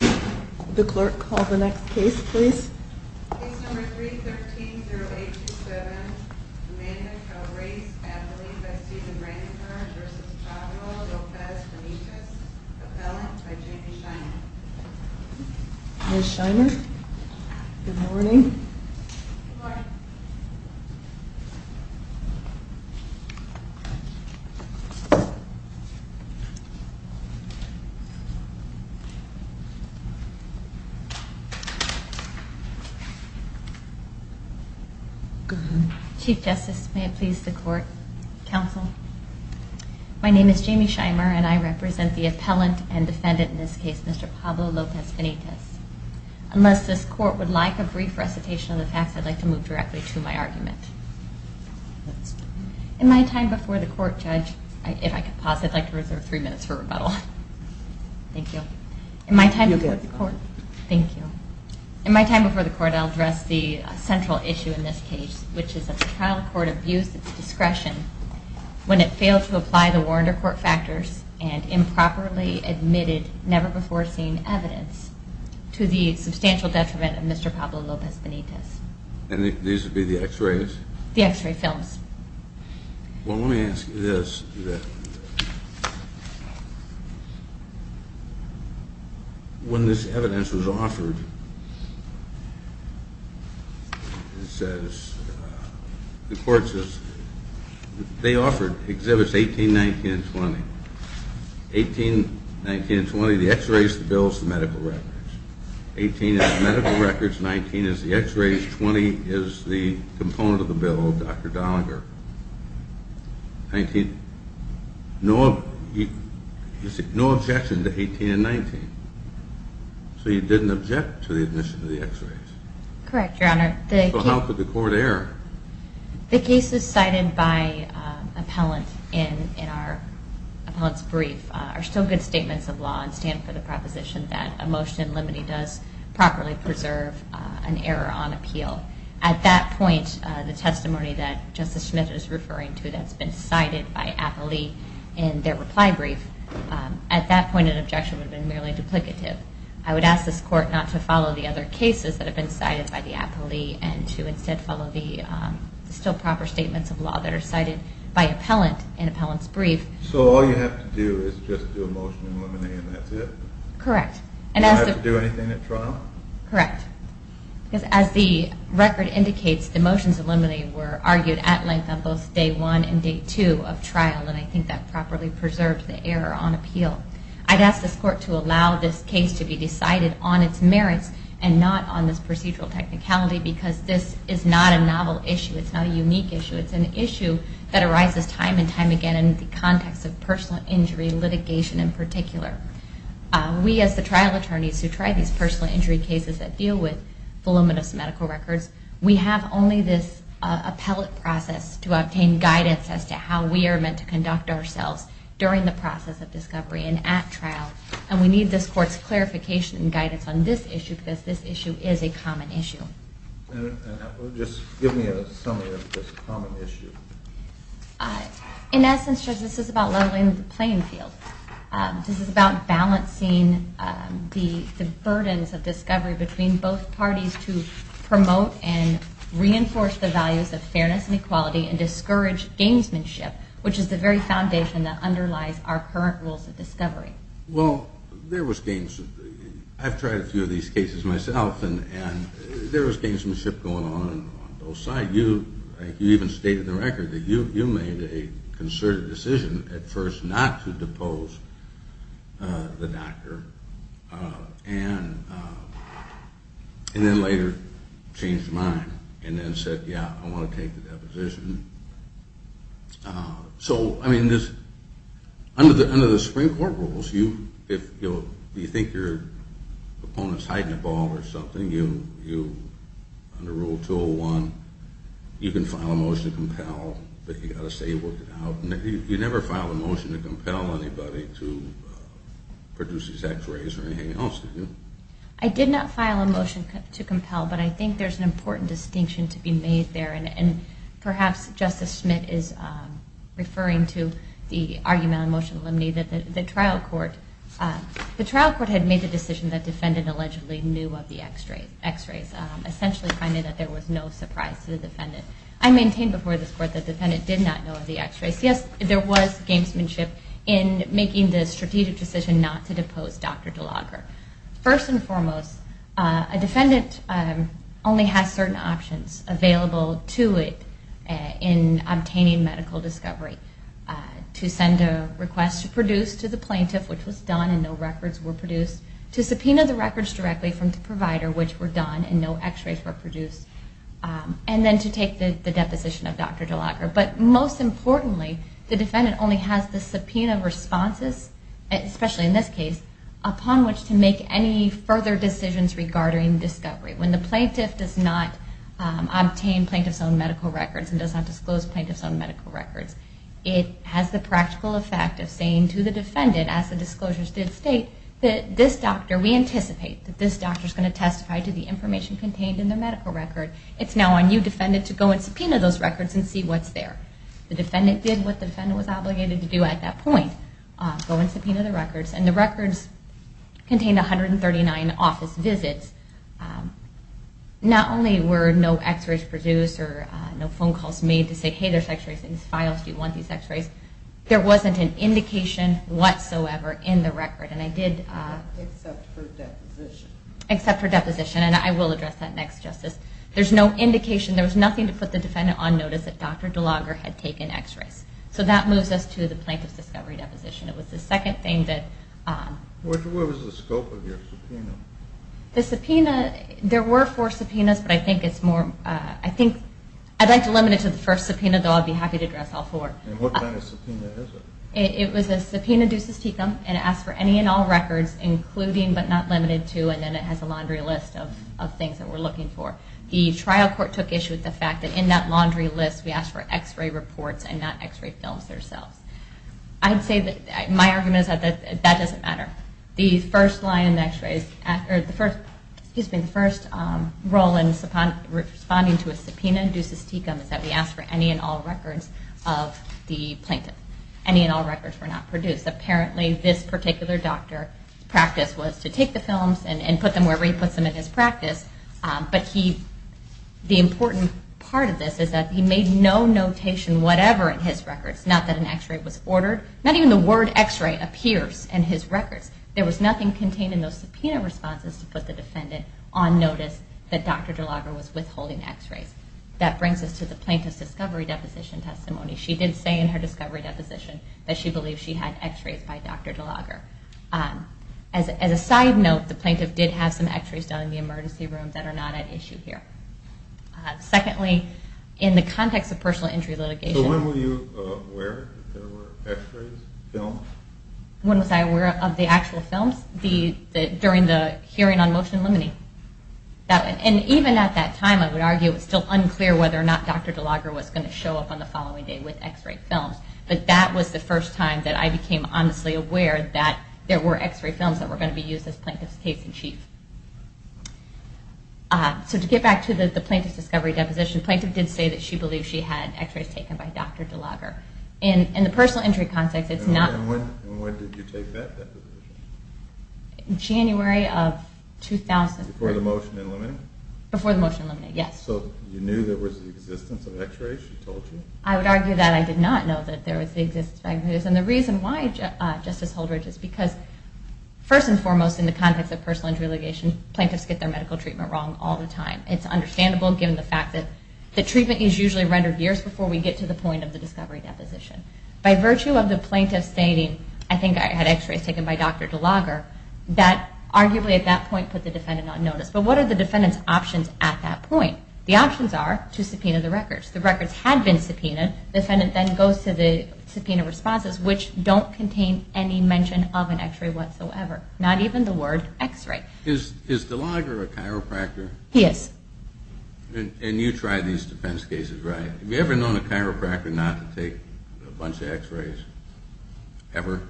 The clerk, call the next case please. Case number 313-0827, Jimena Calvarez-Abilene v. Stephen Rancor v. Pablo Lopez Benitez Appellant by Jamie Scheiner Good morning. Chief Justice, may it please the Court, Counsel. My name is Jamie Scheiner and I represent the appellant and defendant in this case, Mr. Pablo Lopez Benitez. Unless this Court would like a brief recitation of the facts, I'd like to move directly to my argument. In my time before the Court, Judge, if I could pause, I'd like to reserve three minutes for rebuttal. Thank you. In my time before the Court, I'll address the central issue in this case, which is that the trial court abused its discretion when it failed to apply the warrant or court factors and improperly admitted never-before-seen evidence to the substantial detriment of Mr. Pablo Lopez Benitez. And these would be the x-rays? The x-ray films. Well, let me ask you this. When this evidence was offered, it says, the Court says, they offered exhibits 18, 19, and 20. 18, 19, and 20, the x-rays, the bills, the medical records. 18 is the medical records, 19 is the x-rays, 20 is the component of the bill, Dr. Doniger. No objection to 18 and 19. So you didn't object to the admission of the x-rays? Correct, Your Honor. So how could the Court err? The cases cited by the appellant in our appellant's brief are still good statements of law and stand for the proposition that a motion in limine does properly preserve an error on appeal. At that point, the testimony that Justice Smith is referring to that's been cited by appellee in their reply brief, at that point an objection would have been merely duplicative. I would ask this Court not to follow the other cases that have been cited by the appellee and to instead follow the still proper statements of law that are cited by appellant in appellant's brief. So all you have to do is just do a motion in limine and that's it? Correct. You don't have to do anything at trial? Correct. Because as the record indicates, the motions in limine were argued at length on both day one and day two of trial, and I think that properly preserves the error on appeal. I'd ask this Court to allow this case to be decided on its merits and not on its procedural technicality because this is not a novel issue, it's not a unique issue. It's an issue that arises time and time again in the context of personal injury litigation in particular. We as the trial attorneys who try these personal injury cases that deal with voluminous medical records, we have only this appellate process to obtain guidance as to how we are meant to conduct ourselves during the process of discovery and at trial, and we need this Court's clarification and guidance on this issue because this issue is a common issue. Just give me a summary of this common issue. In essence, Judge, this is about leveling the playing field. This is about balancing the burdens of discovery between both parties to promote and reinforce the values of fairness and equality and discourage gamesmanship, which is the very foundation that underlies our current rules of discovery. Well, there was gamesmanship. I've tried a few of these cases myself and there was gamesmanship going on on both sides. You even stated in the record that you made a concerted decision at first not to depose the doctor and then later changed your mind and then said, yeah, I want to take the deposition. So, I mean, under the Supreme Court rules, if you think your opponent is hiding a ball or something, under Rule 201, you can file a motion to compel, but you've got to say you worked it out. You never filed a motion to compel anybody to produce these x-rays or anything else, did you? I did not file a motion to compel, but I think there's an important distinction to be made there and perhaps Justice Smith is referring to the argument on motion to eliminate the trial court. The trial court had made the decision that the defendant allegedly knew of the x-rays, essentially finding that there was no surprise to the defendant. I maintain before this court that the defendant did not know of the x-rays. Yes, there was gamesmanship in making the strategic decision not to depose Dr. DeLaguer. First and foremost, a defendant only has certain options available to it in obtaining medical discovery. To send a request to produce to the plaintiff, which was done and no records were produced. To subpoena the records directly from the provider, which were done and no x-rays were produced. And then to take the deposition of Dr. DeLaguer. But most importantly, the defendant only has the subpoena responses, especially in this case, upon which to make any further decisions regarding discovery. When the plaintiff does not obtain plaintiff's own medical records and does not disclose plaintiff's own medical records, it has the practical effect of saying to the defendant, as the disclosures did state, that this doctor, we anticipate that this doctor is going to testify to the information contained in the medical record. It's now on you, defendant, to go and subpoena those records and see what's there. The defendant did what the defendant was obligated to do at that point, go and subpoena the records, and the records contained 139 office visits. Not only were no x-rays produced or no phone calls made to say, hey, there's x-rays in these files, do you want these x-rays? There wasn't an indication whatsoever in the record, and I did... Except for deposition. Except for deposition, and I will address that next, Justice. There's no indication, there was nothing to put the defendant on notice that Dr. DeLaguer had taken x-rays. So that moves us to the plaintiff's discovery deposition. It was the second thing that... What was the scope of your subpoena? The subpoena, there were four subpoenas, but I think it's more... I think, I'd like to limit it to the first subpoena, though I'd be happy to address all four. And what kind of subpoena is it? It was a subpoena ducis tecum, and it asked for any and all records, including but not limited to, and then it has a laundry list of things that we're looking for. The trial court took issue with the fact that in that laundry list, we asked for x-ray reports and not x-ray films themselves. I'd say that... My argument is that that doesn't matter. The first line in the x-rays... Excuse me, the first role in responding to a subpoena ducis tecum is that we asked for any and all records of the plaintiff. Any and all records were not produced. Apparently, this particular doctor's practice was to take the films and put them wherever he puts them in his practice, but the important part of this is that he made no notation whatever in his records. Not that an x-ray was ordered. Not even the word x-ray appears in his records. There was nothing contained in those subpoena responses to put the defendant on notice that Dr. DeLaguerre was withholding x-rays. That brings us to the plaintiff's discovery deposition testimony. She did say in her discovery deposition that she believed she had x-rays by Dr. DeLaguerre. As a side note, the plaintiff did have some x-rays down in the emergency room that are not at issue here. Secondly, in the context of personal injury litigation... So when were you aware that there were x-rays filmed? When was I aware of the actual films? During the hearing on motion limiting. And even at that time, I would argue it was still unclear whether or not Dr. DeLaguerre was going to show up on the following day with x-ray films, but that was the first time that I became honestly aware that there were x-ray films that were going to be used as plaintiff's case-in-chief. So to get back to the plaintiff's discovery deposition, the plaintiff did say that she believed she had x-rays taken by Dr. DeLaguerre. In the personal injury context, it's not... And when did you take that deposition? January of 2003. Before the motion eliminated? Before the motion eliminated, yes. So you knew there was the existence of x-rays, she told you? I would argue that I did not know that there was the existence of x-rays. And the reason why, Justice Holdridge, is because first and foremost in the context of personal injury litigation, plaintiffs get their medical treatment wrong all the time. It's understandable given the fact that the treatment is usually rendered years before we get to the point of the discovery deposition. By virtue of the plaintiff stating, I think I had x-rays taken by Dr. DeLaguerre, that arguably at that point put the defendant on notice. But what are the defendant's options at that point? The options are to subpoena the records. The records had been subpoenaed. The defendant then goes to the subpoena responses, which don't contain any mention of an x-ray whatsoever. Not even the word x-ray. Is DeLaguerre a chiropractor? He is. And you tried these defense cases, right? Have you ever known a chiropractor not to take a bunch of x-rays? Ever?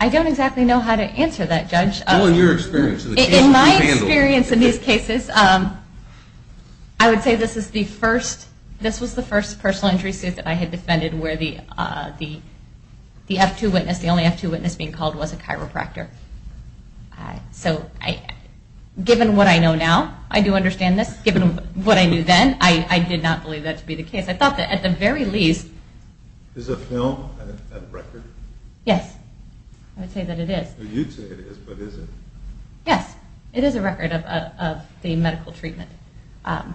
I don't exactly know how to answer that, Judge. Well, in your experience... In my experience in these cases, I would say this was the first personal injury suit that I had defended where the only F-2 witness being called was a chiropractor. So given what I know now, I do understand this. Given what I knew then, I did not believe that to be the case. I thought that at the very least... Is a film a record? Yes. I would say that it is. You'd say it is, but is it? Yes. It is a record of the medical treatment. And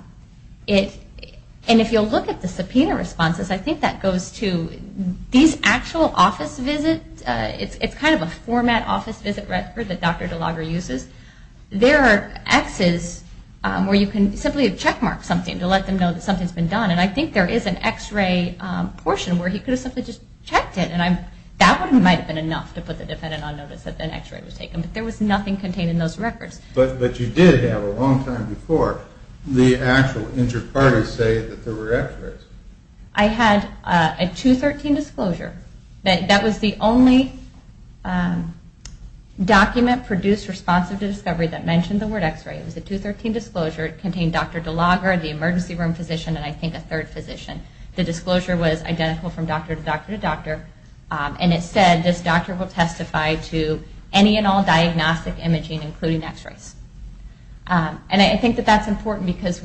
if you'll look at the subpoena responses, I think that goes to these actual office visits. It's kind of a format office visit record that Dr. DeLaguerre uses. There are x's where you can simply checkmark something to let them know that something's been done. And I think there is an x-ray portion where he could have simply just checked it. That one might have been enough to put the defendant on notice that an x-ray was taken. But there was nothing contained in those records. But you did have a long time before the actual inter-parties say that there were x-rays. I had a 2-13 disclosure. That was the only document produced responsive to discovery that mentioned the word x-ray. It was a 2-13 disclosure. It contained Dr. DeLaguerre, the emergency room physician, and I think a third physician. The disclosure was identical from doctor to doctor to doctor. And it said this doctor will testify to any and all diagnostic imaging including x-rays. And I think that that's important because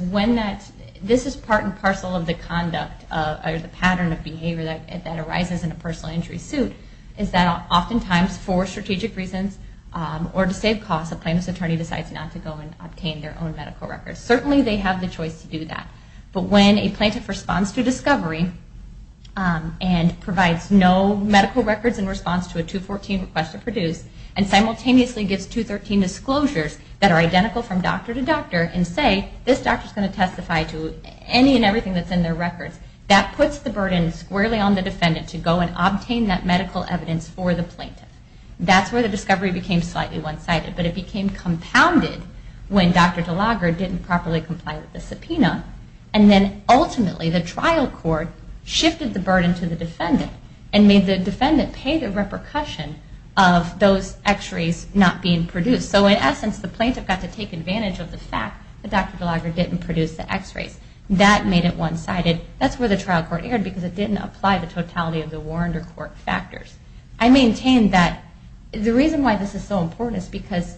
this is part and parcel of the conduct or the pattern of behavior that arises in a personal injury suit, is that oftentimes for strategic reasons or to save costs, a plaintiff's attorney decides not to go and obtain their own medical records. Certainly they have the choice to do that. But when a plaintiff responds to discovery and provides no medical records in response to a 2-14 request to produce and simultaneously gives 2-13 disclosures that are identical from doctor to doctor and say this doctor is going to testify to any and everything that's in their records, that puts the burden squarely on the defendant to go and obtain that medical evidence for the plaintiff. That's where the discovery became slightly one-sided. But it became compounded when Dr. DeLaguerre didn't properly comply with the subpoena. And then ultimately the trial court shifted the burden to the defendant and made the defendant pay the repercussion of those x-rays not being produced. So in essence, the plaintiff got to take advantage of the fact that Dr. DeLaguerre didn't produce the x-rays. That made it one-sided. That's where the trial court erred because it didn't apply the totality of the warrant or court factors. I maintain that the reason why this is so important is because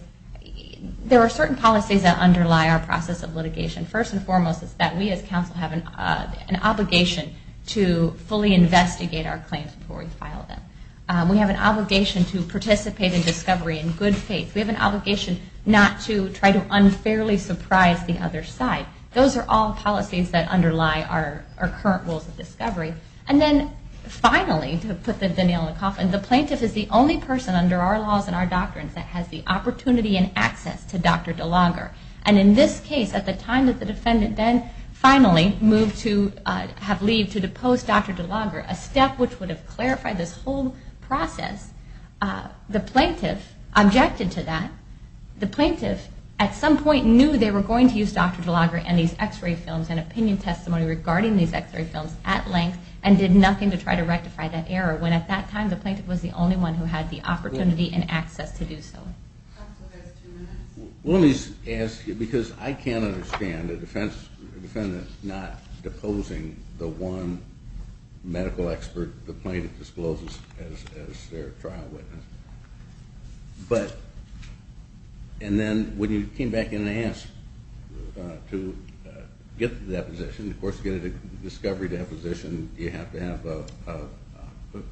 there are certain policies that underlie our process of litigation. First and foremost is that we as counsel have an obligation to fully investigate our claims before we file them. We have an obligation to participate in discovery in good faith. We have an obligation not to try to unfairly surprise the other side. Those are all policies that underlie our current rules of discovery. And then finally, to put the nail in the coffin, the plaintiff is the only person under our laws and our doctrines that has the opportunity and access to Dr. DeLaguerre. And in this case, at the time that the defendant then finally moved to have leave to depose Dr. DeLaguerre, a step which would have clarified this whole process, the plaintiff objected to that. The plaintiff at some point knew they were going to use Dr. DeLaguerre and these x-ray films and opinion testimony regarding these x-ray films at length and did nothing to try to rectify that error, when at that time the plaintiff was the only one who had the opportunity and access to do so. Let me ask you, because I can't understand a defendant not deposing the one medical expert the plaintiff discloses as their trial witness. But, and then when you came back in and asked to get the deposition, of course to get a discovery deposition you have to have a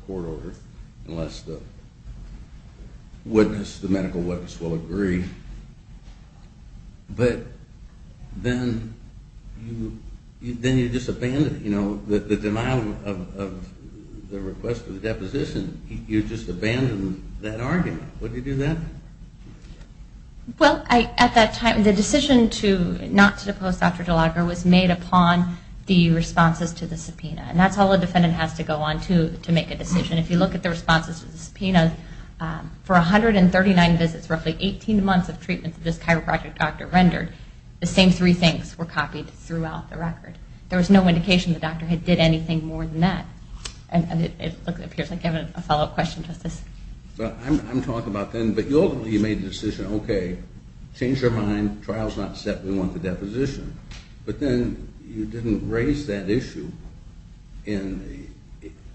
court order unless the medical witness will agree, but then you just abandon it. The denial of the request for the deposition, you just abandon that argument. Would you do that? Well, at that time the decision not to depose Dr. DeLaguerre was made upon the responses to the subpoena. And that's all a defendant has to go on to to make a decision. If you look at the responses to the subpoena, for 139 visits, roughly 18 months of treatment, that this chiropractic doctor rendered, the same three things were copied throughout the record. There was no indication the doctor had did anything more than that. And it appears like you have a follow-up question, Justice. I'm talking about then, but ultimately you made the decision, okay, change your mind, trial's not set, we want the deposition. But then you didn't raise that issue in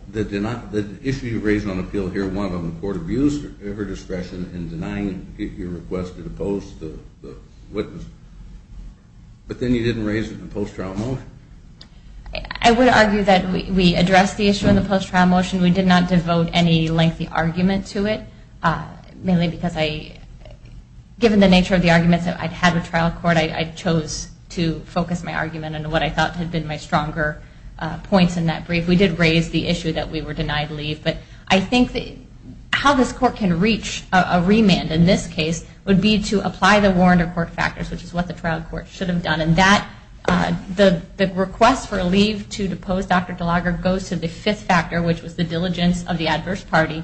the, the issue you raised on appeal here, one of them court abuse, ever discretion in denying your request to depose the witness. But then you didn't raise it in the post-trial motion. I would argue that we addressed the issue in the post-trial motion. We did not devote any lengthy argument to it, mainly because I, given the nature of the arguments I'd had with trial court, I chose to focus my argument on what I thought had been my stronger points in that brief. We did raise the issue that we were denied leave, but I think how this court can reach a remand in this case would be to apply the warrant or court factors, which is what the trial court should have done. And that, the request for leave to depose Dr. DeLogger goes to the fifth factor, which was the diligence of the adverse party.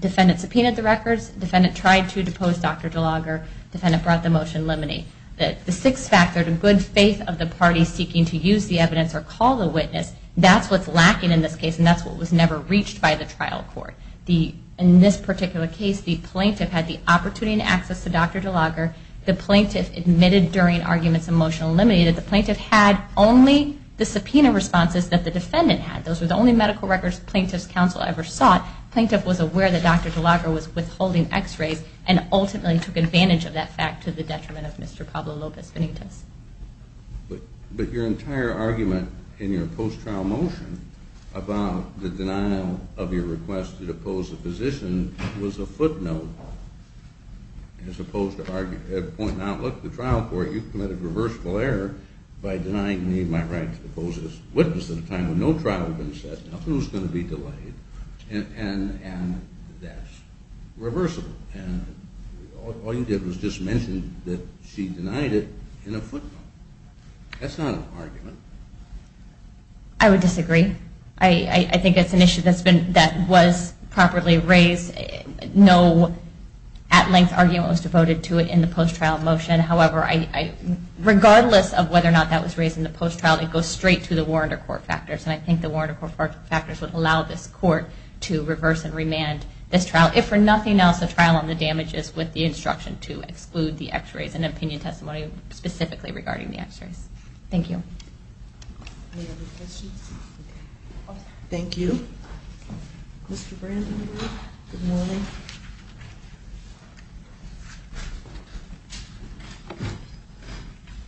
Defendant subpoenaed the records, defendant tried to depose Dr. DeLogger, defendant brought the motion limine. The sixth factor, the good faith of the party seeking to use the evidence or call the witness, that's what's lacking in this case, and that's what was never reached by the trial court. In this particular case, the plaintiff had the opportunity and access to Dr. DeLogger, the plaintiff admitted during arguments and motion eliminated, the plaintiff had only the subpoena responses that the defendant had. Those were the only medical records plaintiff's counsel ever sought. Plaintiff was aware that Dr. DeLogger was withholding x-rays and ultimately took advantage of that fact to the detriment of Mr. Pablo Lopez Benitez. But your entire argument in your post-trial motion about the denial of your request to depose the physician was a footnote as opposed to pointing out, look, the trial court, you've committed reversible error by denying me my right to depose this witness at a time when no trial had been set. Now who's going to be delayed? And that's reversible. All you did was just mention that she denied it in a footnote. That's not an argument. I would disagree. I think it's an issue that was properly raised. No at-length argument was devoted to it in the post-trial motion. However, regardless of whether or not that was raised in the post-trial, it goes straight to the warrant or court factors, and I think the warrant or court factors would allow this court to reverse and remand this trial. If for nothing else, the trial on the damages with the instruction to exclude the x-rays and opinion testimony specifically regarding the x-rays. Thank you. Any other questions? Thank you. Mr. Brandenburg, good morning.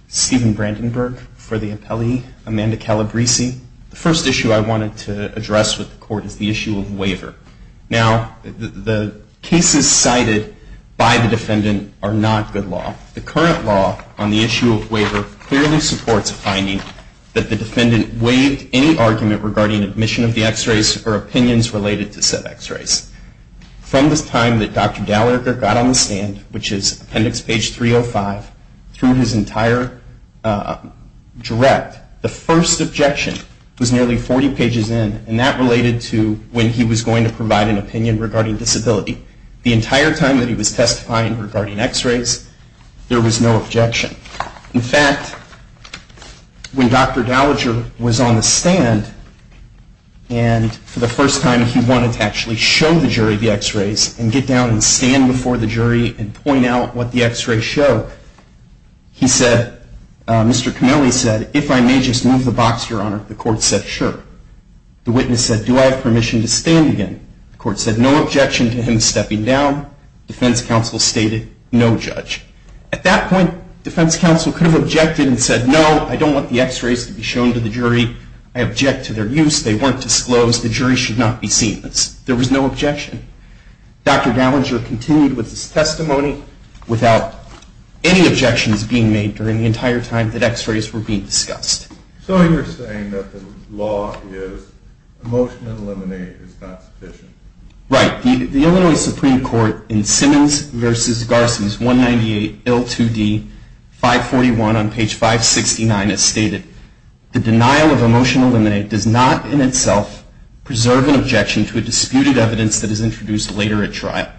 Steven Brandenburg for the appellee, Amanda Calabresi. The first issue I wanted to address with the court is the issue of waiver. Now, the cases cited by the defendant are not good law. The current law on the issue of waiver clearly supports a finding that the defendant waived any argument regarding admission of the x-rays or opinions related to said x-rays. From the time that Dr. Dallagher got on the stand, which is appendix page 305, through his entire direct, the first objection was nearly 40 pages in, and that related to when he was going to provide an opinion regarding disability. The entire time that he was testifying regarding x-rays, there was no objection. In fact, when Dr. Dallagher was on the stand, and for the first time he wanted to actually show the jury the x-rays and get down and stand before the jury and point out what the x-rays show, he said, Mr. Connelly said, if I may just move the box, Your Honor. The court said, sure. The witness said, do I have permission to stand again? The court said, no objection to him stepping down. Defense counsel stated, no judge. At that point, defense counsel could have objected and said, no, I don't want the x-rays to be shown to the jury. I object to their use. They weren't disclosed. The jury should not be seen. There was no objection. Dr. Dallagher continued with his testimony without any objections being made during the entire time that x-rays were being discussed. So you're saying that the law is, emotion eliminate is not sufficient. Right. The Illinois Supreme Court in Simmons v. Garson's 198L2D541 on page 569 has stated, the denial of emotion eliminate does not in itself preserve an objection to a disputed evidence that is introduced later at trial.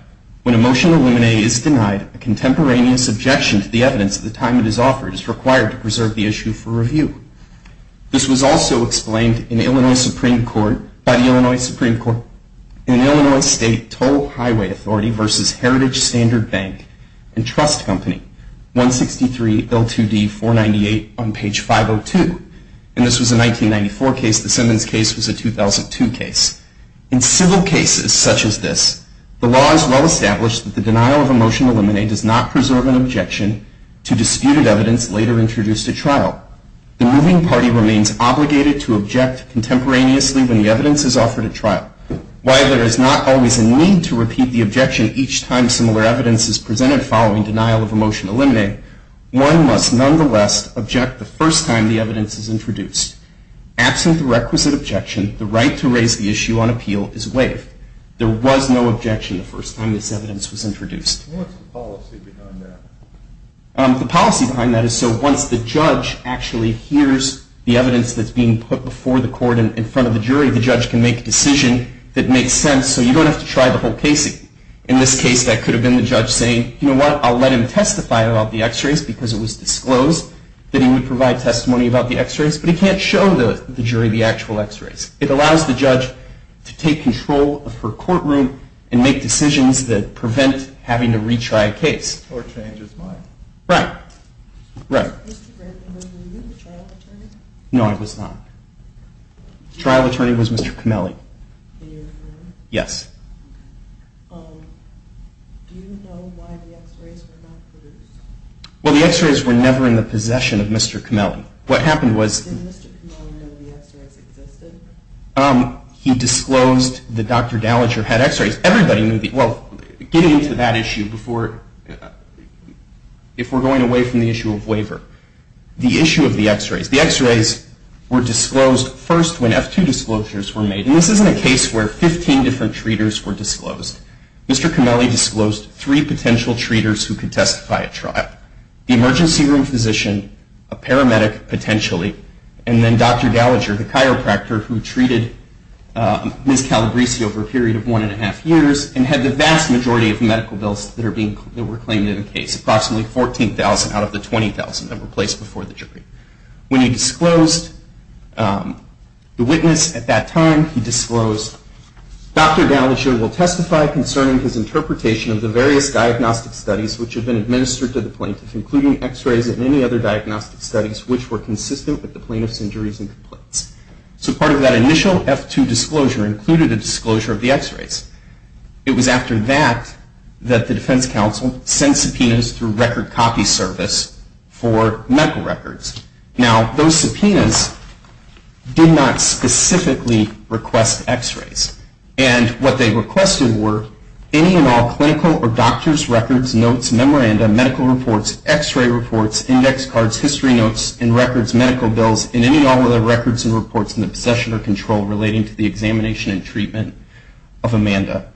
When emotion eliminate is denied, a contemporaneous objection to the evidence at the time it is offered is required to preserve the issue for review. This was also explained in the Illinois Supreme Court, by the Illinois Supreme Court, in Illinois State Toll Highway Authority v. Heritage Standard Bank and Trust Company, 163L2D498 on page 502. And this was a 1994 case. The Simmons case was a 2002 case. In civil cases such as this, the law is well established that the denial of emotion eliminate does not preserve an objection to disputed evidence later introduced at trial. The moving party remains obligated to object contemporaneously when the evidence is offered at trial. While there is not always a need to repeat the objection each time similar evidence is presented following denial of emotion eliminate, one must nonetheless object the first time the evidence is introduced. Absent the requisite objection, the right to raise the issue on appeal is waived. There was no objection the first time this evidence was introduced. What's the policy behind that? The policy behind that is so once the judge actually hears the evidence that's being put before the court in front of the jury, the judge can make a decision that makes sense so you don't have to try the whole case again. In this case, that could have been the judge saying, you know what, I'll let him testify about the x-rays because it was disclosed that he would provide testimony about the x-rays, but he can't show the jury the actual x-rays. It allows the judge to take control of her courtroom and make decisions that prevent having to retry a case. Or change his mind. Right. Right. Was the trial attorney with you? No, I was not. The trial attorney was Mr. Cameli. In your firm? Yes. Okay. Do you know why the x-rays were not produced? Well, the x-rays were never in the possession of Mr. Cameli. What happened was- Did Mr. Cameli know the x-rays existed? He disclosed that Dr. Dallager had x-rays. Everybody knew the- well, getting into that issue before- if we're going away from the issue of waiver, the issue of the x-rays. The x-rays were disclosed first when F-2 disclosures were made. And this isn't a case where 15 different treaters were disclosed. Mr. Cameli disclosed three potential treaters who could testify at trial. The emergency room physician, a paramedic potentially, and then Dr. Dallager, the chiropractor, who treated Ms. Calabresi over a period of one and a half years, and had the vast majority of medical bills that were claimed in the case. Approximately 14,000 out of the 20,000 that were placed before the jury. When he disclosed the witness at that time, he disclosed, Dr. Dallager will testify concerning his interpretation of the various diagnostic studies which have been administered to the plaintiff, including x-rays and any other diagnostic studies which were consistent with the plaintiff's injuries and complaints. So part of that initial F-2 disclosure included a disclosure of the x-rays. It was after that that the defense counsel sent subpoenas through record copy service for medical records. Now, those subpoenas did not specifically request x-rays. And what they requested were any and all clinical or doctor's records, notes, memoranda, medical reports, x-ray reports, index cards, history notes, and records, medical bills, and any and all other records and reports in the possession or control relating to the examination and treatment of Amanda.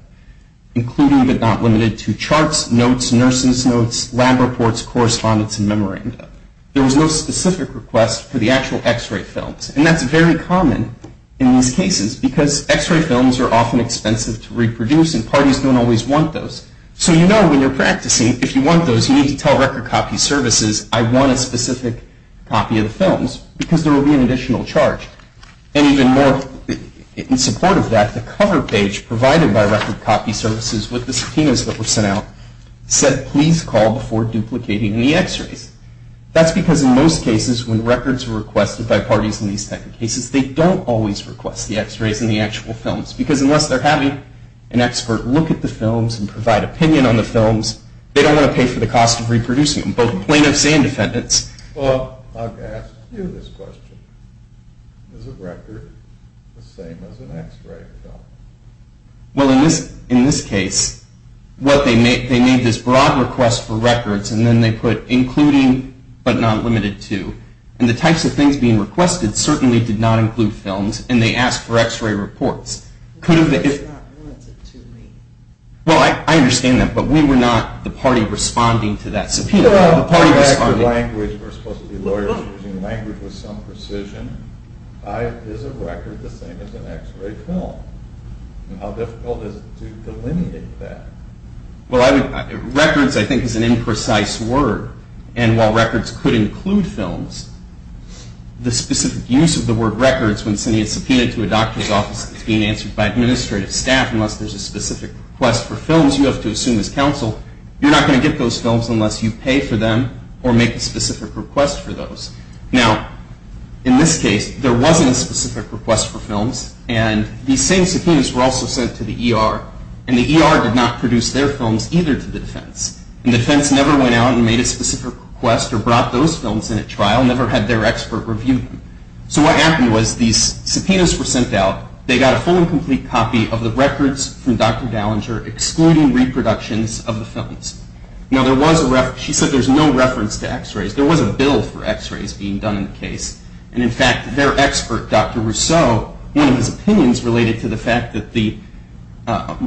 Including but not limited to charts, notes, nurse's notes, lab reports, correspondence, and memoranda. There was no specific request for the actual x-ray films. And that's very common in these cases because x-ray films are often expensive to reproduce and parties don't always want those. So you know when you're practicing, if you want those, you need to tell record copy services, I want a specific copy of the films because there will be an additional charge. And even more in support of that, the cover page provided by record copy services with the subpoenas that were sent out said please call before duplicating the x-rays. That's because in most cases when records are requested by parties in these types of cases, they don't always request the x-rays and the actual films. Because unless they're having an expert look at the films and provide opinion on the films, they don't want to pay for the cost of reproducing them, both plaintiffs and defendants. Well, I've asked you this question. Is a record the same as an x-ray film? Well, in this case, what they made, they made this broad request for records and then they put including but not limited to. And the types of things being requested certainly did not include films and they asked for x-ray reports. But that's not limited to me. Well, I understand that, but we were not the party responding to that subpoena. Well, we're supposed to be lawyers using language with some precision. Is a record the same as an x-ray film? And how difficult is it to delineate that? Well, records I think is an imprecise word. And while records could include films, the specific use of the word records when sending a subpoena to a doctor's office that's being answered by administrative staff, unless there's a specific request for films you have to assume is counsel, you're not going to get those films unless you pay for them or make a specific request for those. Now, in this case, there wasn't a specific request for films and these same subpoenas were also sent to the ER and the ER did not produce their films either to the defense. And the defense never went out and made a specific request or brought those films in at trial, never had their expert review them. So what happened was these subpoenas were sent out, they got a full and complete copy of the records from Dr. Gallinger excluding reproductions of the films. Now, she said there's no reference to x-rays. There was a bill for x-rays being done in the case. And in fact, their expert, Dr. Rousseau, one of his opinions related to the fact that the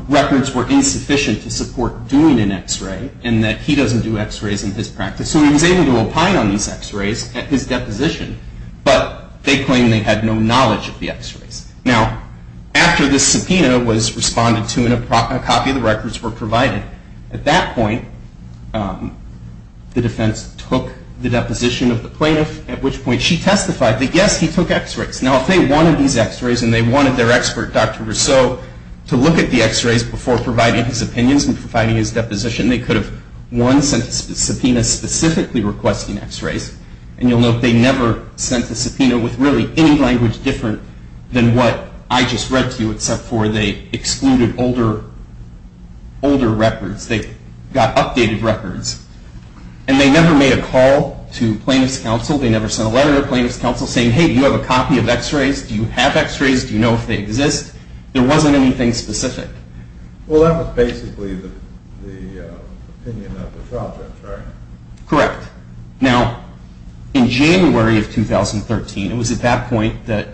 records were insufficient to support doing an x-ray and that he doesn't do x-rays in his practice. So he was able to opine on these x-rays at his deposition, but they claimed they had no knowledge of the x-rays. Now, after this subpoena was responded to and a copy of the records were provided, at that point the defense took the deposition of the plaintiff, at which point she testified that yes, he took x-rays. Now, if they wanted these x-rays and they wanted their expert, Dr. Rousseau, to look at the x-rays before providing his opinions and providing his deposition, they could have, one, sent a subpoena specifically requesting x-rays and you'll note they never sent a subpoena with really any language different than what I just read to you except for they excluded older records. They got updated records. And they never made a call to plaintiff's counsel. They never sent a letter to plaintiff's counsel saying, hey, do you have a copy of x-rays? Do you have x-rays? Do you know if they exist? There wasn't anything specific. Well, that was basically the opinion of the trial judge, right? Correct. Now, in January of 2013, it was at that point that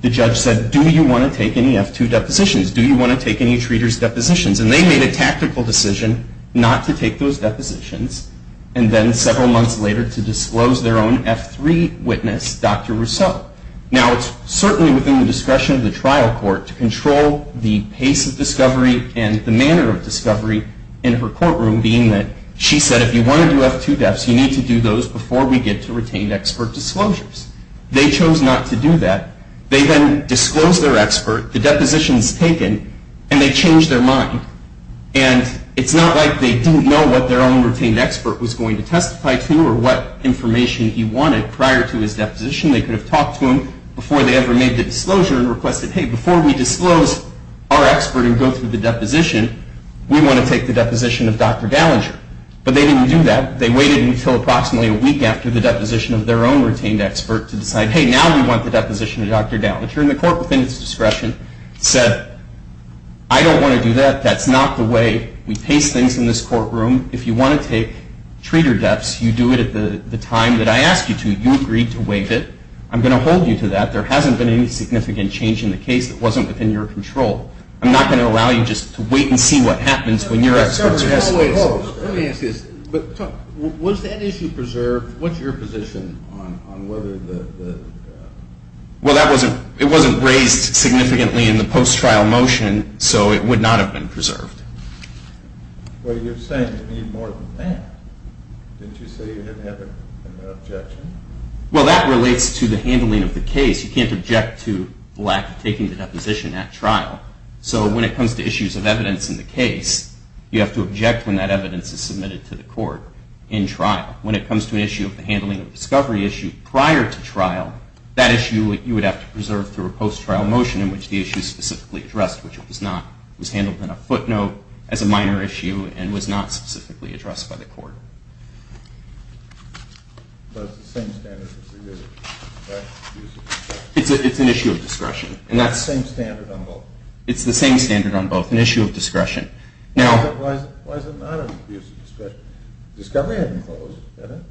the judge said, do you want to take any F-2 depositions? Do you want to take any treaters' depositions? And they made a tactical decision not to take those depositions and then several months later to disclose their own F-3 witness, Dr. Rousseau. Now, it's certainly within the discretion of the trial court to control the pace of discovery and the manner of discovery in her courtroom, being that she said if you want to do F-2 deaths, you need to do those before we get to retained expert disclosures. They chose not to do that. They then disclosed their expert, the depositions taken, and they changed their mind. And it's not like they didn't know what their own retained expert was going to testify to or what information he wanted prior to his deposition. They could have talked to him before they ever made the disclosure and requested, hey, before we disclose our expert and go through the deposition, we want to take the deposition of Dr. Gallinger. But they didn't do that. They waited until approximately a week after the deposition of their own retained expert to decide, hey, now we want the deposition of Dr. Gallinger. And the court, within its discretion, said, I don't want to do that. That's not the way we pace things in this courtroom. If you want to take treater deaths, you do it at the time that I asked you to. You agreed to waive it. I'm going to hold you to that. There hasn't been any significant change in the case that wasn't within your control. I'm not going to allow you just to wait and see what happens when your expert is released. Let me ask you this. Was that issue preserved? What's your position on whether the ---- Well, it wasn't raised significantly in the post-trial motion, so it would not have been preserved. Well, you're saying you need more than that. Didn't you say you didn't have an objection? Well, that relates to the handling of the case. In the case, you can't object to the lack of taking the deposition at trial. So when it comes to issues of evidence in the case, you have to object when that evidence is submitted to the court in trial. When it comes to an issue of the handling of a discovery issue prior to trial, that issue you would have to preserve through a post-trial motion in which the issue is specifically addressed, which it was not. It was handled in a footnote as a minor issue and was not specifically addressed by the court. But it's the same standard as the use of discretion. It's an issue of discretion. It's the same standard on both. It's the same standard on both, an issue of discretion. Why is it not an issue of discretion? Discovery hadn't closed, had it?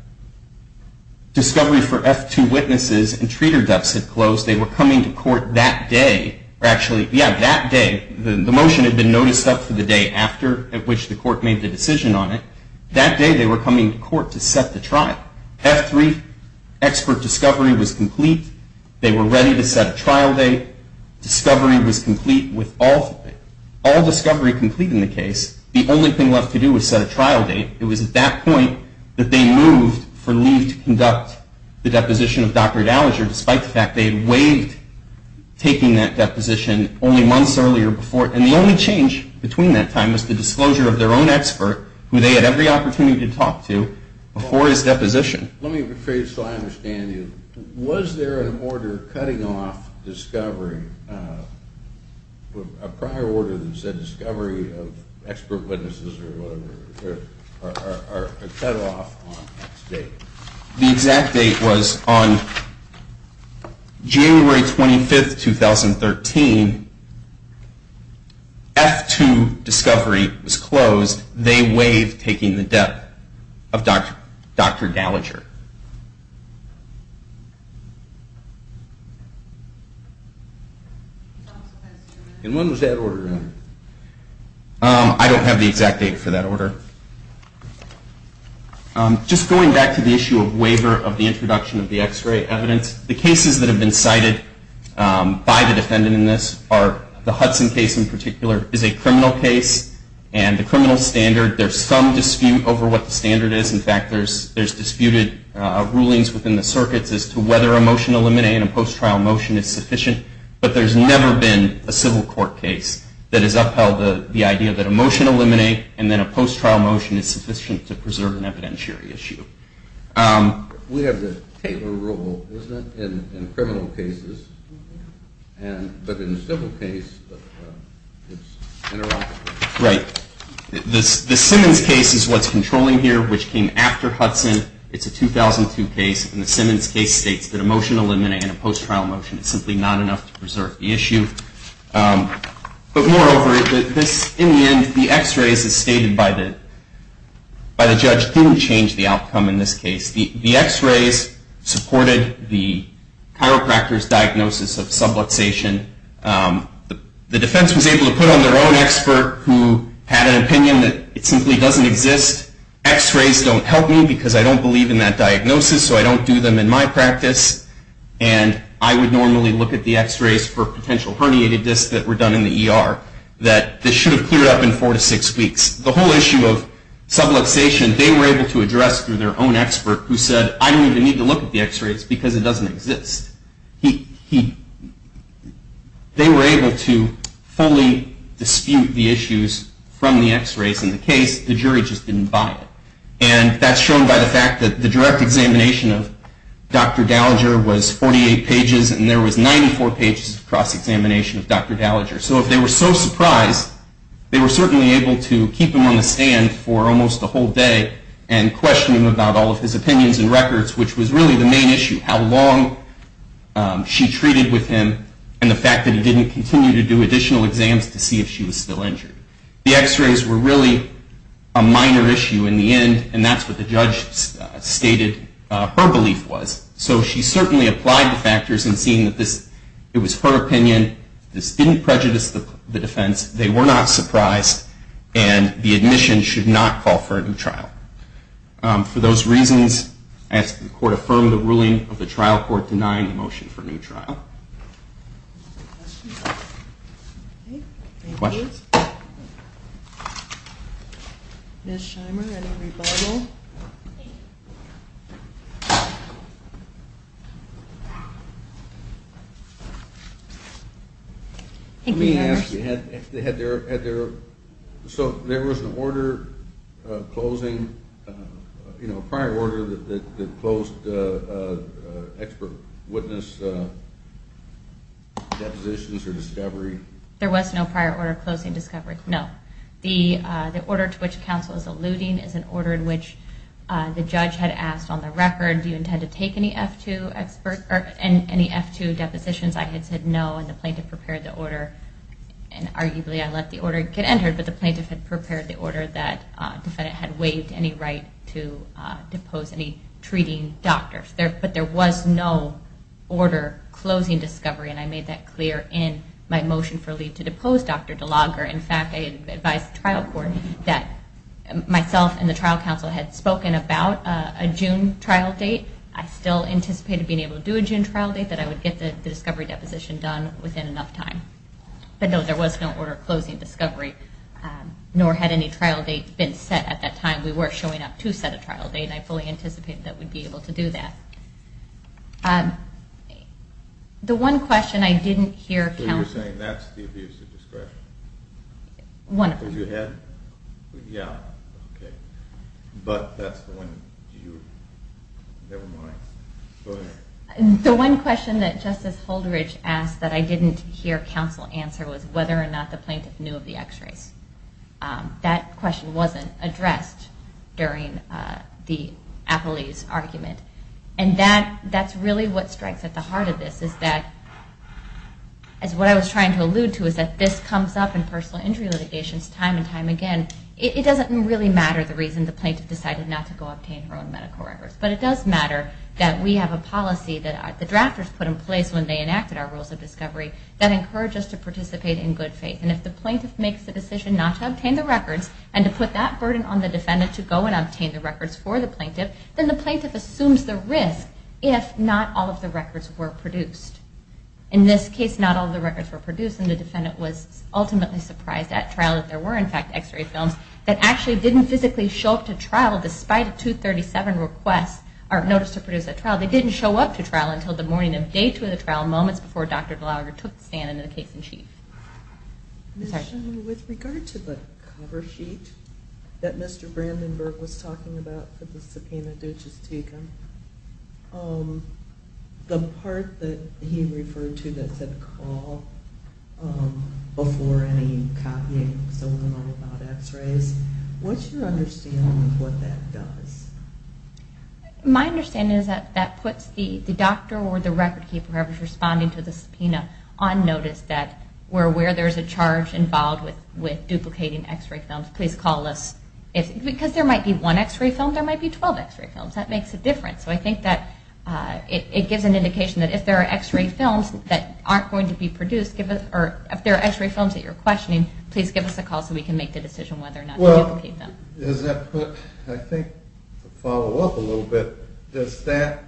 Discovery for F-2 witnesses and treater deaths had closed. They were coming to court that day, or actually, yeah, that day. The motion had been noticed up for the day after, at which the court made the decision on it. That day they were coming to court to set the trial. F-3 expert discovery was complete. They were ready to set a trial date. Discovery was complete with all discovery complete in the case. The only thing left to do was set a trial date. It was at that point that they moved for leave to conduct the deposition of Dr. Dallager, despite the fact they had waived taking that deposition only months earlier before. And the only change between that time was the disclosure of their own expert, who they had every opportunity to talk to, before his deposition. Let me rephrase so I understand you. Was there an order cutting off discovery, a prior order that said discovery of expert witnesses or whatever, or a cut off on that date? The exact date was on January 25, 2013. F-2 discovery was closed. They waived taking the debt of Dr. Dallager. And when was that order in? I don't have the exact date for that order. Just going back to the issue of waiver of the introduction of the x-ray evidence, the cases that have been cited by the defendant in this are the Hudson case in particular is a criminal case. And the criminal standard, there's some dispute over what the standard is. In fact, there's disputed rulings within the circuits as to whether a motion to eliminate a post-trial motion is sufficient. But there's never been a civil court case that has upheld the idea that a motion to eliminate and then a post-trial motion is sufficient to preserve an evidentiary issue. We have the Taylor rule, isn't it, in criminal cases? But in a civil case, it's interrupted. Right. The Simmons case is what's controlling here, which came after Hudson. It's a 2002 case. And the Simmons case states that a motion to eliminate and a post-trial motion is simply not enough to preserve the issue. But moreover, in the end, the x-rays, as stated by the judge, didn't change the outcome in this case. The x-rays supported the chiropractor's diagnosis of subluxation. The defense was able to put on their own expert who had an opinion that it simply doesn't exist. X-rays don't help me because I don't believe in that diagnosis, so I don't do them in my practice. And I would normally look at the x-rays for potential herniated discs that were done in the ER, that this should have cleared up in four to six weeks. The whole issue of subluxation, they were able to address through their own expert who said, I don't even need to look at the x-rays because it doesn't exist. They were able to fully dispute the issues from the x-rays in the case. The jury just didn't buy it. And that's shown by the fact that the direct examination of Dr. Gallagher was 48 pages, and there was 94 pages of cross-examination of Dr. Gallagher. So if they were so surprised, they were certainly able to keep him on the stand for almost a whole day and question him about all of his opinions and records, which was really the main issue, how long she treated with him and the fact that he didn't continue to do additional exams to see if she was still injured. The x-rays were really a minor issue in the end, and that's what the judge stated her belief was. So she certainly applied the factors in seeing that it was her opinion. This didn't prejudice the defense. They were not surprised, and the admission should not call for a new trial. For those reasons, the court affirmed the ruling of the trial court denying the motion for a new trial. Any questions? Ms. Shimer, any rebuttal? Thank you. Let me ask you, so there was an order closing, a prior order that closed expert witness depositions or discovery? There was no prior order closing discovery, no. The order to which counsel is alluding is an order in which the judge had asked on the record, do you intend to take any F-2 depositions? I had said no, and the plaintiff prepared the order, and arguably I let the order get entered, but the plaintiff had prepared the order that the defendant had waived any right to depose any treating doctor. But there was no order closing discovery, and I made that clear in my motion for leave to depose Dr. DeLogger. In fact, I advised the trial court that myself and the trial counsel had spoken about a June trial date. I still anticipated being able to do a June trial date, that I would get the discovery deposition done within enough time. But no, there was no order closing discovery, nor had any trial dates been set at that time. We were showing up to set a trial date, and I fully anticipated that we'd be able to do that. The one question I didn't hear counsel... So you're saying that's the abuse of discretion? One of them. Because you had? Yeah. Okay. But that's the one you... never mind. Go ahead. The one question that Justice Holderidge asked that I didn't hear counsel answer was whether or not the plaintiff knew of the x-rays. That question wasn't addressed during the Appley's argument. And that's really what strikes at the heart of this, is that, as what I was trying to allude to, is that this comes up in personal injury litigations time and time again. It doesn't really matter the reason the plaintiff decided not to go obtain her own medical records, but it does matter that we have a policy that the drafters put in place when they enacted our rules of discovery that encouraged us to participate in good faith. And if the plaintiff makes the decision not to obtain the records, and to put that burden on the defendant to go and obtain the records for the plaintiff, then the plaintiff assumes the risk if not all of the records were produced. In this case, not all of the records were produced, and the defendant was ultimately surprised at trial that there were, in fact, x-ray films that actually didn't physically show up to trial despite a 237 notice to produce at trial. They didn't show up to trial until the morning of day two of the trial, moments before Dr. Dallagher took the stand into the case in chief. With regard to the cover sheet that Mr. Brandenburg was talking about for the subpoena, the part that he referred to that said call before any copying, so we're not all about x-rays, what's your understanding of what that does? My understanding is that that puts the doctor or the record keeper who is responding to the subpoena on notice that we're aware there's a charge involved with duplicating x-ray films, please call us. Because there might be one x-ray film, there might be 12 x-ray films. That makes a difference. So I think that it gives an indication that if there are x-ray films that aren't going to be produced, or if there are x-ray films that you're questioning, please give us a call so we can make the decision whether or not to duplicate them. Does that put, I think to follow up a little bit, does that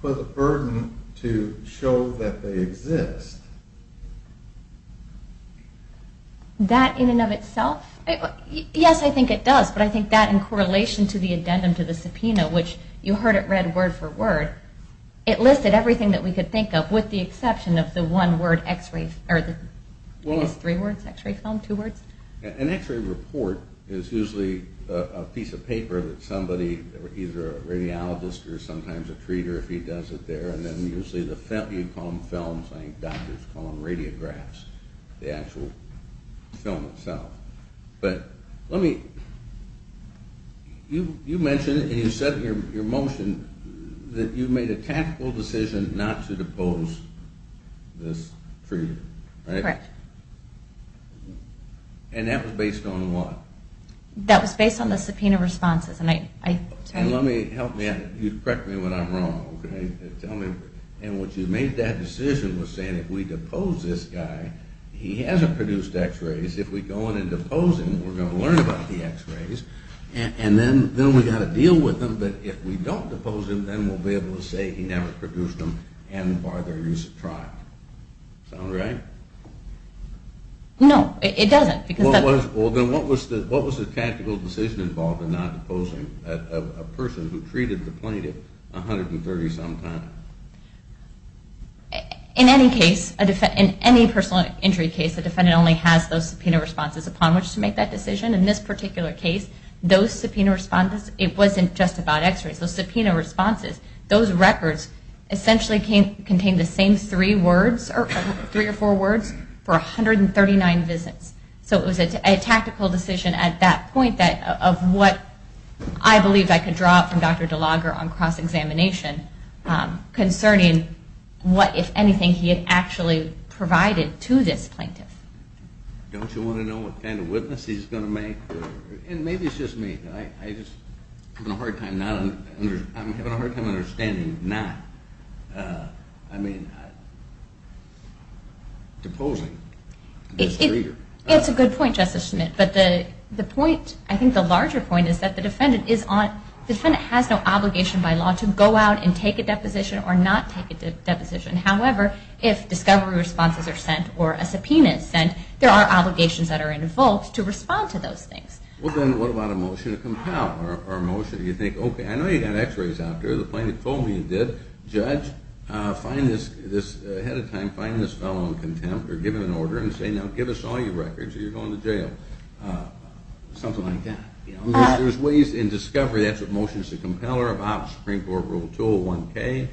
put a burden to show that they exist? That in and of itself? Yes, I think it does, but I think that in correlation to the addendum to the subpoena, which you heard it read word for word, it listed everything that we could think of with the exception of the one word x-ray, or three words, x-ray film, two words? An x-ray report is usually a piece of paper that somebody, either a radiologist or sometimes a treater, if he does it there, and then usually you call them films, I think doctors call them radiographs, the actual film itself. But let me, you mentioned, and you said in your motion, that you made a tactical decision not to depose this treater, right? Correct. And that was based on what? That was based on the subpoena responses. And let me, correct me when I'm wrong, okay, and what you made that decision was saying if we depose this guy, he hasn't produced x-rays, if we go in and depose him, we're going to learn about the x-rays, and then we've got to deal with him, but if we don't depose him, then we'll be able to say he never produced them, and bar their use of trial. Sound right? No, it doesn't. Well, then what was the tactical decision involved in not deposing a person who treated the plaintiff 130-some time? In any case, in any personal injury case, the defendant only has those subpoena responses upon which to make that decision. In this particular case, those subpoena responses, it wasn't just about x-rays, those subpoena responses, those records essentially contained the same three or four words for 139 visits. So it was a tactical decision at that point of what I believed I could draw from Dr. DeLager on cross-examination concerning what, if anything, he had actually provided to this plaintiff. Don't you want to know what kind of witness he's going to make? And maybe it's just me. I'm having a hard time understanding not deposing this reader. It's a good point, Justice Smith. But I think the larger point is that the defendant has no obligation by law to go out and take a deposition or not take a deposition. However, if discovery responses are sent or a subpoena is sent, there are obligations that are involved to respond to those things. Well, then what about a motion to compel or a motion? You think, okay, I know you've got x-rays out there. The plaintiff told me you did. Judge, ahead of time, find this fellow in contempt or give him an order and say, now give us all your records or you're going to jail. Something like that. There's ways in discovery, that's what motions to compel are about, Supreme Court Rule 201K,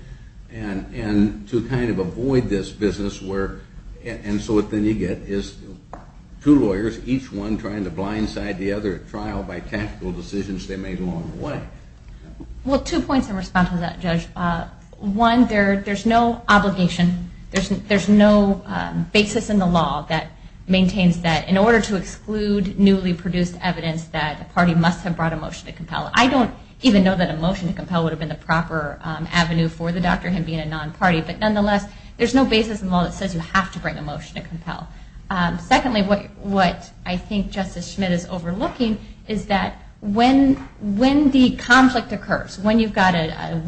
and to kind of avoid this business where, and so what then you get is two lawyers, each one trying to blindside the other at trial by tactical decisions they made along the way. Well, two points in response to that, Judge. One, there's no obligation, there's no basis in the law that maintains that in order to exclude newly produced evidence that the party must have brought a motion to compel. I don't even know that a motion to compel would have been the proper avenue for the doctor, him being a non-party. But nonetheless, there's no basis in the law that says you have to bring a motion to compel. Secondly, what I think Justice Schmidt is overlooking, is that when the conflict occurs, when you've got a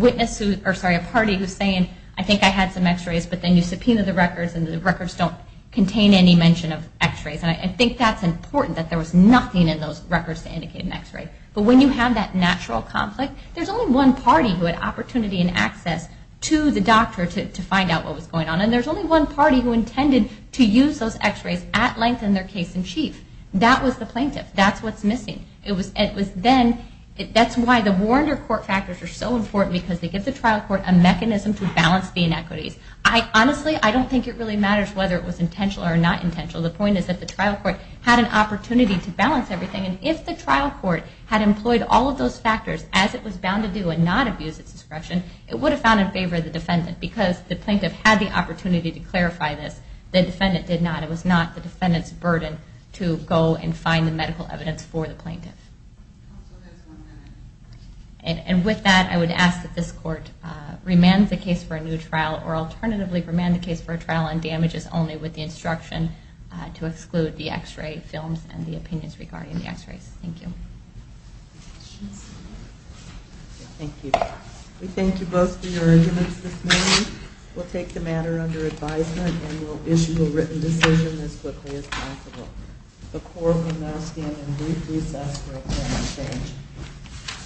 party who's saying, I think I had some x-rays, but then you subpoena the records and the records don't contain any mention of x-rays, and I think that's important, that there was nothing in those records to indicate an x-ray. But when you have that natural conflict, there's only one party who had opportunity and access to the doctor to find out what was going on, and there's only one party who intended to use those x-rays at length in their case in chief. That was the plaintiff. That's what's missing. It was then, that's why the Warrender Court factors are so important, because they give the trial court a mechanism to balance the inequities. Honestly, I don't think it really matters whether it was intentional or not intentional. The point is that the trial court had an opportunity to balance everything, and if the trial court had employed all of those factors as it was bound to do and not abuse its discretion, it would have found in favor of the defendant because the plaintiff had the opportunity to clarify this. The defendant did not. It was not the defendant's burden to go and find the medical evidence for the plaintiff. And with that, I would ask that this court remand the case for a new trial or alternatively remand the case for a trial on damages only with the instruction to exclude the x-ray films and the opinions regarding the x-rays. Thank you. Any questions? Thank you. We thank you both for your arguments this morning. We'll take the matter under advisement and we'll issue a written decision as quickly as possible. The court will now stand in brief recess for a quorum exchange.